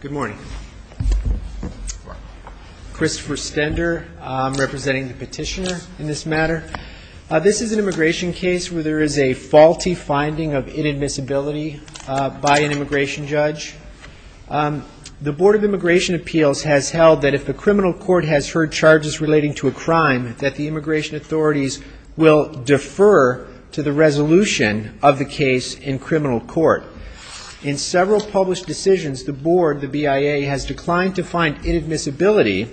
Good morning. Christopher Stender, I'm representing the petitioner in this matter. This is an immigration case where there is a faulty finding of inadmissibility by an immigration judge. The Board of Immigration Appeals has held that if the criminal court has heard charges relating to a crime, that the immigration authorities will defer to the resolution of the case in criminal court. In several published decisions, the Board, the BIA, has declined to find inadmissibility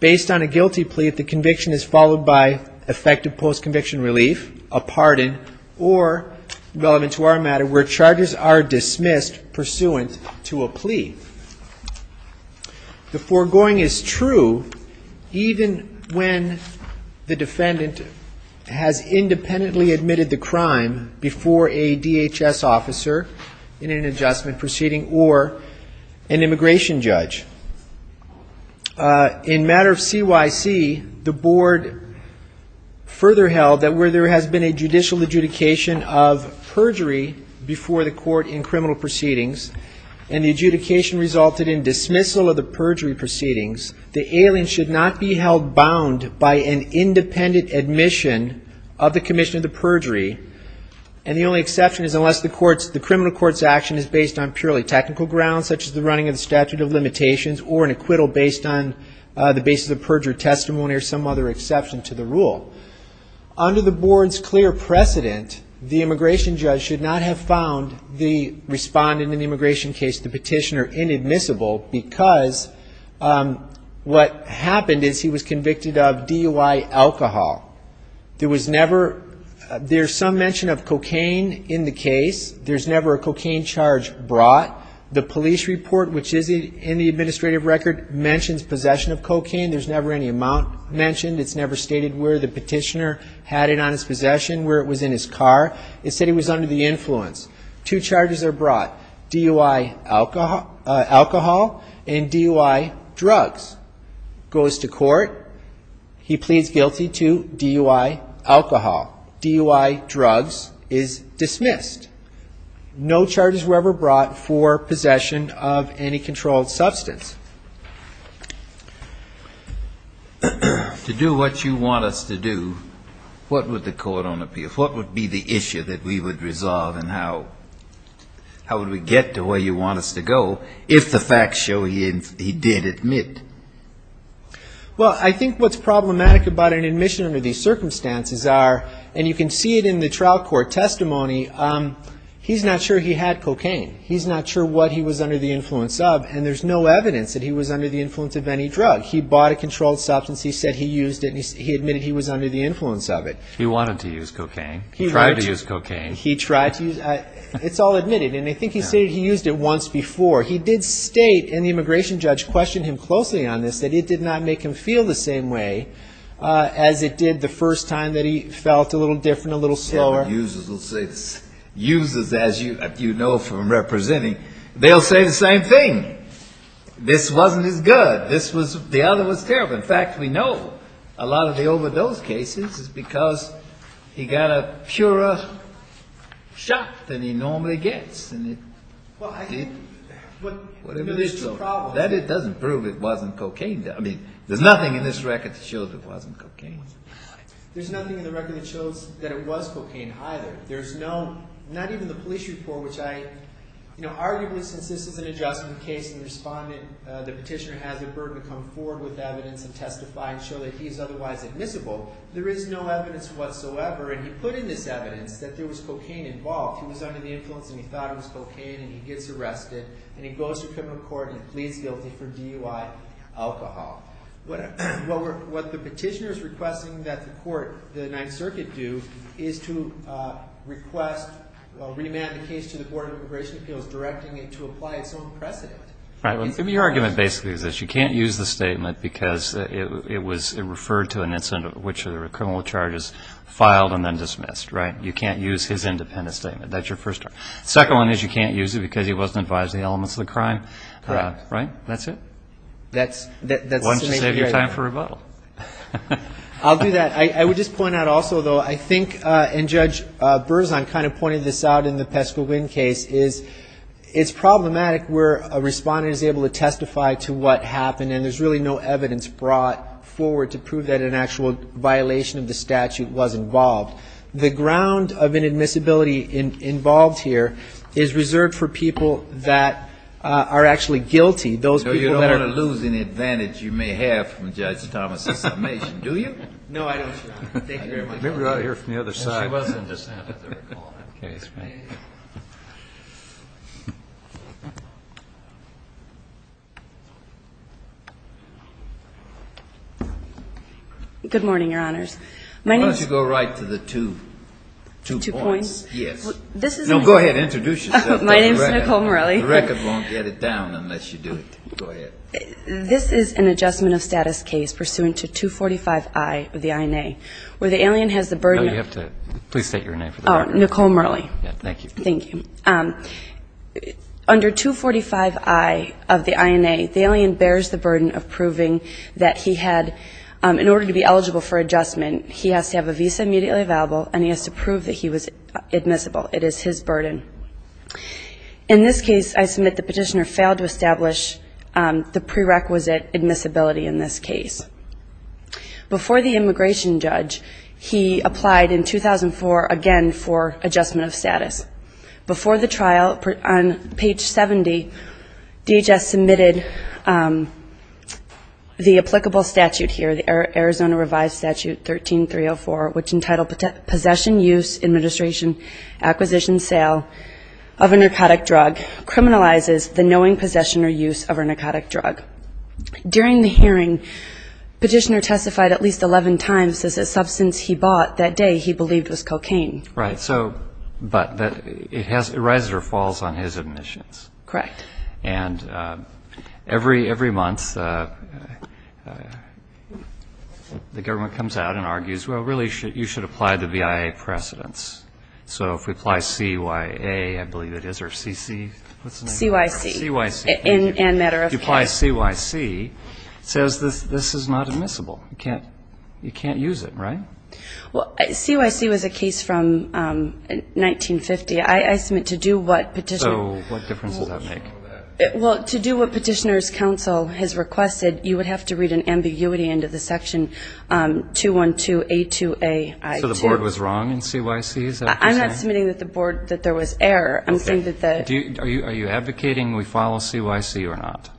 based on a guilty plea if the conviction is followed by effective post-conviction relief, a pardon, or, relevant to our matter, where charges are dismissed pursuant to a plea. The foregoing is true even when the defendant has independently admitted the crime before a DHS officer in an adjustment proceeding or an immigration judge. In matter of CYC, the Board further held that where there has been a judicial adjudication of perjury before the court in criminal proceedings and the adjudication resulted in dismissal of the perjury proceedings, the alien should not be held bound by an independent admission of the commission of the perjury and the only exception is unless the criminal court's action is based on purely technical grounds such as the running of the statute of limitations or an acquittal based on the basis of perjury testimony or some other exception to the rule. Under the Board's clear precedent, the immigration judge should not have found the respondent in the immigration case, the petitioner, inadmissible because what happened is he was convicted of DUI alcohol. There's some mention of cocaine in the case. There's never a cocaine charge brought. The police report, which is in the administrative record, mentions possession of cocaine. There's never any amount mentioned. It's never stated where the petitioner had it on his possession, where it was in his car. It said he was under the influence. Two charges are brought, DUI alcohol and DUI drugs. It goes to court. The court he pleads guilty to DUI alcohol. DUI drugs is dismissed. No charges were ever brought for possession of any controlled substance. To do what you want us to do, what would the court on appeal, what would be the issue that we would resolve and how would we get to where you want us to go if the facts show he did admit? Well, I think what's problematic about an admission under these circumstances are, and you can see it in the trial court testimony, he's not sure he had cocaine. He's not sure what he was under the influence of and there's no evidence that he was under the influence of any drug. He bought a controlled substance. He said he used it and he admitted he was under the influence of it. He wanted to use cocaine. He tried to use cocaine. He tried to use, it's all admitted and I think he said he used it once before. He did state and the immigration judge questioned him closely on this, that it did not make him feel the same way as it did the first time that he felt a little different, a little slower. Users will say, users as you know from representing, they'll say the same thing. This wasn't as good. This was, the other was terrible. In fact, we know a lot of the overdose cases is because he got a purer shot than he normally gets and it did whatever it is to him. That doesn't prove it wasn't cocaine. There's nothing in this record that shows it wasn't cocaine. There's nothing in the record that shows that it was cocaine either. There's no, not even the police report which I, you know, arguably since this is an adjustment case and the respondent, the petitioner has a burden to come forward with evidence and testify and show that he is otherwise admissible. There is no evidence whatsoever and he put in this evidence that there was cocaine involved. He was under the influence and he thought it was cocaine and he gets arrested and he goes to criminal court and pleads guilty for DUI alcohol. What the petitioner is requesting that the court, the Ninth Circuit do is to request, re-demand the case to the Board of Immigration Appeals directing it to apply its own precedent. Right, well your argument basically is this. You can't use the statement because it was, it referred to an incident which the criminal charges filed and then dismissed, right? You can't use his independent statement. That's your first argument. Second one is you can't use it because he wasn't advised of the elements of the crime. Right. Right? That's it? That's, that's the statement right there. Why don't you save your time for rebuttal? I'll do that. I would just point out also though, I think and Judge Berzon kind of pointed this out in the Pesco Wind case is it's problematic where a respondent is able to testify to what happened and there's really no evidence brought forward to prove that an actual violation of the statute was involved. The ground of inadmissibility involved here is reserved for people that are actually guilty. Those people that are No, you don't want to lose any advantage you may have from Judge Thomas' summation, do you? No, I don't, Your Honor. Thank you very much. Let me go out here from the other side. She wasn't just out of the recall in that case. Good morning, Your Honors. Why don't you go right to the two points. The two points? Yes. This is No, go ahead. Introduce yourself. My name is Nicole Murley. The record won't get it down unless you do it. Go ahead. This is an adjustment of status case pursuant to 245I of the INA where the alien has the Nicole Murley. Nicole Murley. Nicole Murley. Thank you. Under 245I of the INA, the alien bears the burden of proving that he had, in order to be eligible for adjustment, he has to have a visa immediately available and he has to prove that he was admissible. It is his burden. In this case, I submit the petitioner failed to establish the prerequisite admissibility in this case. Before the immigration judge, he applied in 2004 again for adjustment of status. Before the trial, on page 70, DHS submitted the applicable statute here, the Arizona Revised Statute 13304, which entitled Possession, Use, Administration, Acquisition, Sale of a Narcotic Drug criminalizes the knowing possession or use of a narcotic drug. During the hearing, petitioner testified at least 11 times that the substance he bought that day he believed was cocaine. Right. So, but it has, it rises or falls on his admissions. Correct. And every month, the government comes out and argues, well, really, you should apply the BIA precedents. So if we apply CYA, I believe it is, or CC, what's the name? CYC. CYC. And matter of fact. CYC says this is not admissible. You can't use it, right? Well, CYC was a case from 1950. I submit to do what petitioner. So what difference does that make? Well, to do what petitioner's counsel has requested, you would have to read an ambiguity into the section 212A2AI2. So the board was wrong in CYC, is that what you're saying? I'm not submitting that the board, that there was error. Okay. Are you advocating we follow CYC or not?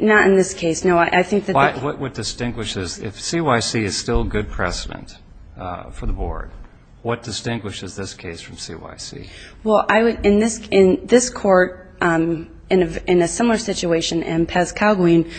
Not in this case. No, I think that the. What distinguishes, if CYC is still good precedent for the board, what distinguishes this case from CYC? Well, I would, in this court, in a similar situation, M. Paz-Kalguin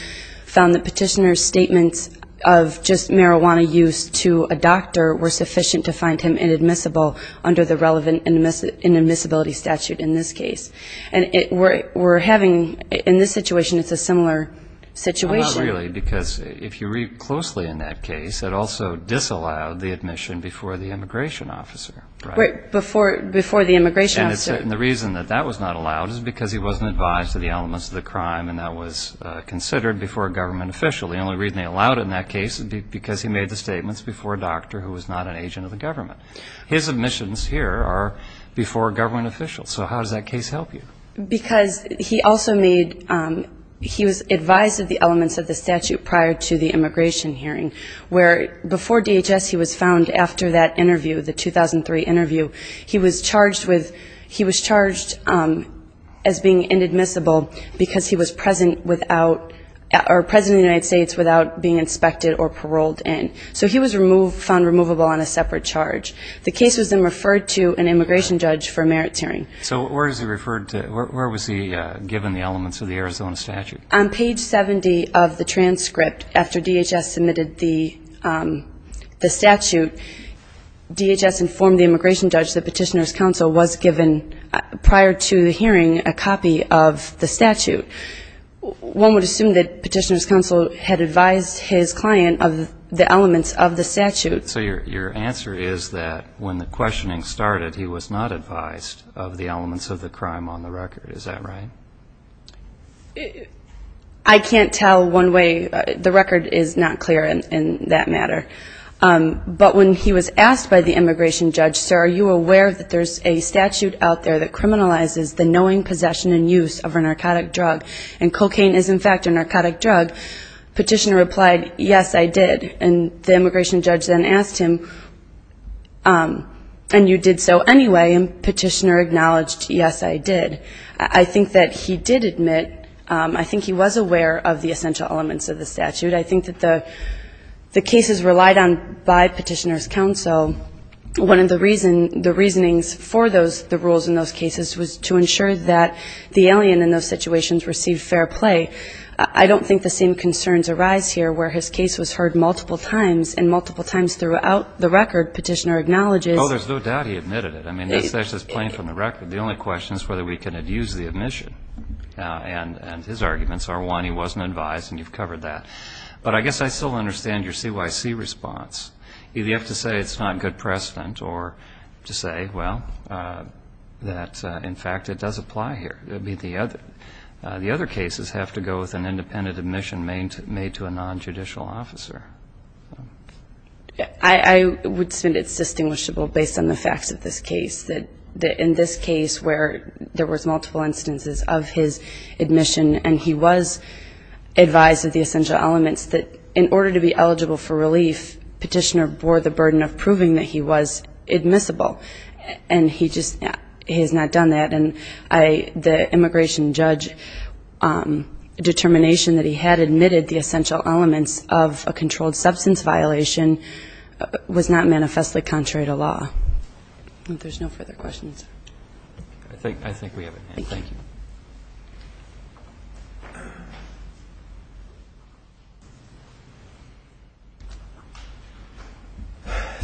found the petitioner's statements of just marijuana use to a doctor were sufficient to find him inadmissible under the relevant inadmissibility statute. In this case. And we're having, in this situation, it's a similar situation. Not really, because if you read closely in that case, it also disallowed the admission before the immigration officer. Before the immigration officer. And the reason that that was not allowed is because he wasn't advised of the elements of the crime and that was considered before a government official. The only reason they allowed it in that case is because he made the statements before a doctor who was not an agent of the government. His admissions here are before a government official. So how does that case help you? Because he also made, he was advised of the elements of the statute prior to the immigration hearing, where before DHS he was found, after that interview, the 2003 interview, he was charged with, he was charged as being inadmissible because he was present without, or present in the United States without being inspected or paroled in. So he was removed, found removable on a separate charge. The case was then referred to an immigration judge for a merits hearing. So where is he referred to, where was he given the elements of the Arizona statute? On page 70 of the transcript, after DHS submitted the statute, DHS informed the immigration judge that Petitioner's Counsel was given, prior to the hearing, a copy of the statute. One would assume that Petitioner's Counsel had advised his client of the elements of the statute. So your answer is that when the questioning started, he was not advised of the elements of the crime on the record. Is that right? I can't tell one way, the record is not clear in that matter. But when he was asked by the immigration judge, sir, are you aware that there's a statute out there that criminalizes the knowing possession and use of a narcotic drug, and cocaine is in fact a narcotic drug, Petitioner replied, yes, I did. And the immigration judge then asked him, and you did so anyway, and Petitioner acknowledged, yes, I did. I think that he did admit, I think he was aware of the essential elements of the statute. I think that the cases relied on by Petitioner's Counsel, one of the reasonings for the rules in those cases was to ensure that the alien in those situations received fair play. I don't think the same concerns arise here where his case was heard multiple times, and multiple times throughout the record, Petitioner acknowledges. Oh, there's no doubt he admitted it. I mean, that's just plain from the record. The only question is whether we can abuse the admission. And his arguments are, one, he wasn't advised, and you've covered that. But I guess I still understand your CYC response. Either you have to say it's not good precedent, or to say, well, that in fact it does apply here. I mean, the other cases have to go with an independent admission made to a nonjudicial officer. I would say it's distinguishable based on the facts of this case, that in this case where there was multiple instances of his admission, and he was advised of the essential elements, that in order to be eligible for relief, Petitioner bore the burden of proving that he was admissible, and he just has not done that. And the immigration judge determination that he had admitted the essential elements of a controlled substance violation was not manifestly contrary to law. There's no further questions. Thank you.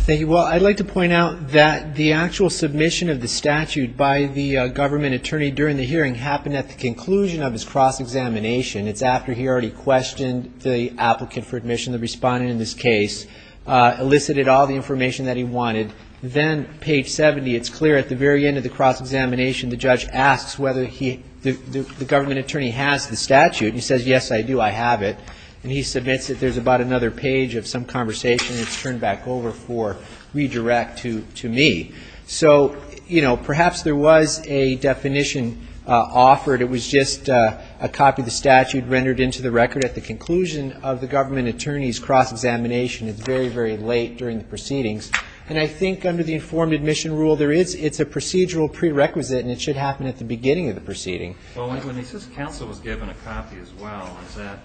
Well, I'd like to point out that the actual submission of the statute by the government attorney during the hearing happened at the conclusion of his cross-examination. It's after he already questioned the applicant for admission, the respondent in this case, elicited all the information that he wanted. And then page 70, it's clear at the very end of the cross-examination, the judge asks whether the government attorney has the statute. And he says, yes, I do, I have it. And he submits it. There's about another page of some conversation, and it's turned back over for redirect to me. So, you know, perhaps there was a definition offered. It was just a copy of the statute rendered into the record at the conclusion of the government attorney's cross-examination. It's very, very late during the proceedings. And I think under the informed admission rule, it's a procedural prerequisite, and it should happen at the beginning of the proceeding. Well, when he says counsel was given a copy as well, is that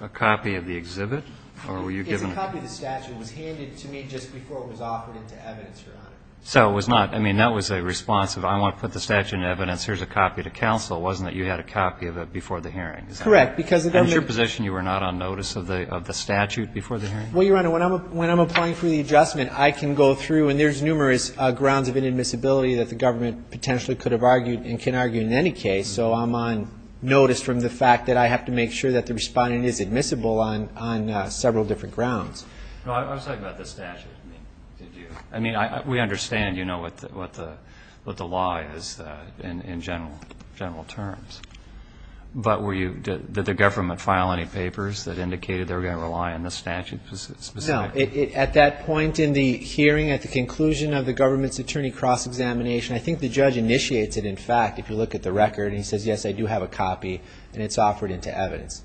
a copy of the exhibit, or were you given a copy? It's a copy of the statute. The statute was handed to me just before it was offered into evidence, Your Honor. So it was not, I mean, that was a response of, I want to put the statute into evidence, here's a copy to counsel. It wasn't that you had a copy of it before the hearing. Is that correct? Correct, because the government... I was talking about the statute. I mean, we understand, you know, what the law is in general terms. But did the government file any papers that indicated they were going to rely on the statute specifically? No. At that point in the hearing, at the conclusion of the government's attorney cross-examination, I think the judge initiates it. And in fact, if you look at the record, and he says, yes, I do have a copy, and it's offered into evidence.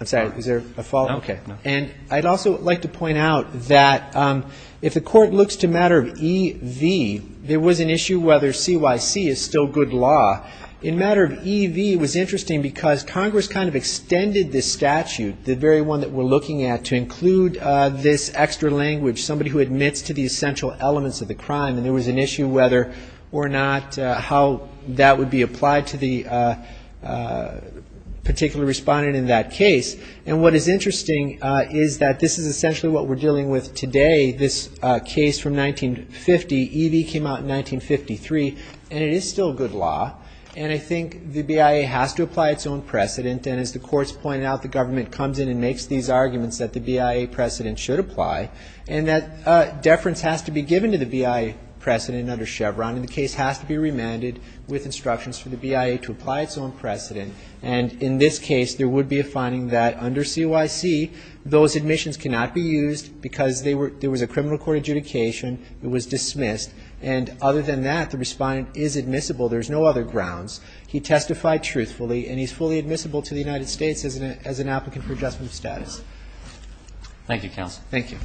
I'm sorry, is there a fault? Okay. And I'd also like to point out that if the court looks to matter of E.V., there was an issue whether C.Y.C. is still good law. In matter of E.V., it was interesting because Congress kind of extended this statute, the very one that we're looking at, to include this extra language, somebody who admits to the essential elements of the crime. And there was an issue whether or not how that would be applied to the particular respondent in that case. And what is interesting is that this is essentially what we're dealing with today, this case from 1950. E.V. came out in 1953, and it is still good law. And I think the BIA has to apply its own precedent, and as the courts pointed out, the government comes in and makes these arguments that the BIA precedent should apply, and that deference has to be given to the BIA precedent under Chevron, and the case has to be remanded with instructions for the BIA to apply its own precedent. And in this case, there would be a finding that under C.Y.C., those admissions cannot be used because there was a criminal court adjudication, it was dismissed, and other than that, the respondent is admissible, there's no other grounds. He testified truthfully, and he's fully admissible to the United States as an applicant for adjustment of status. Thank you, counsel. Thank you.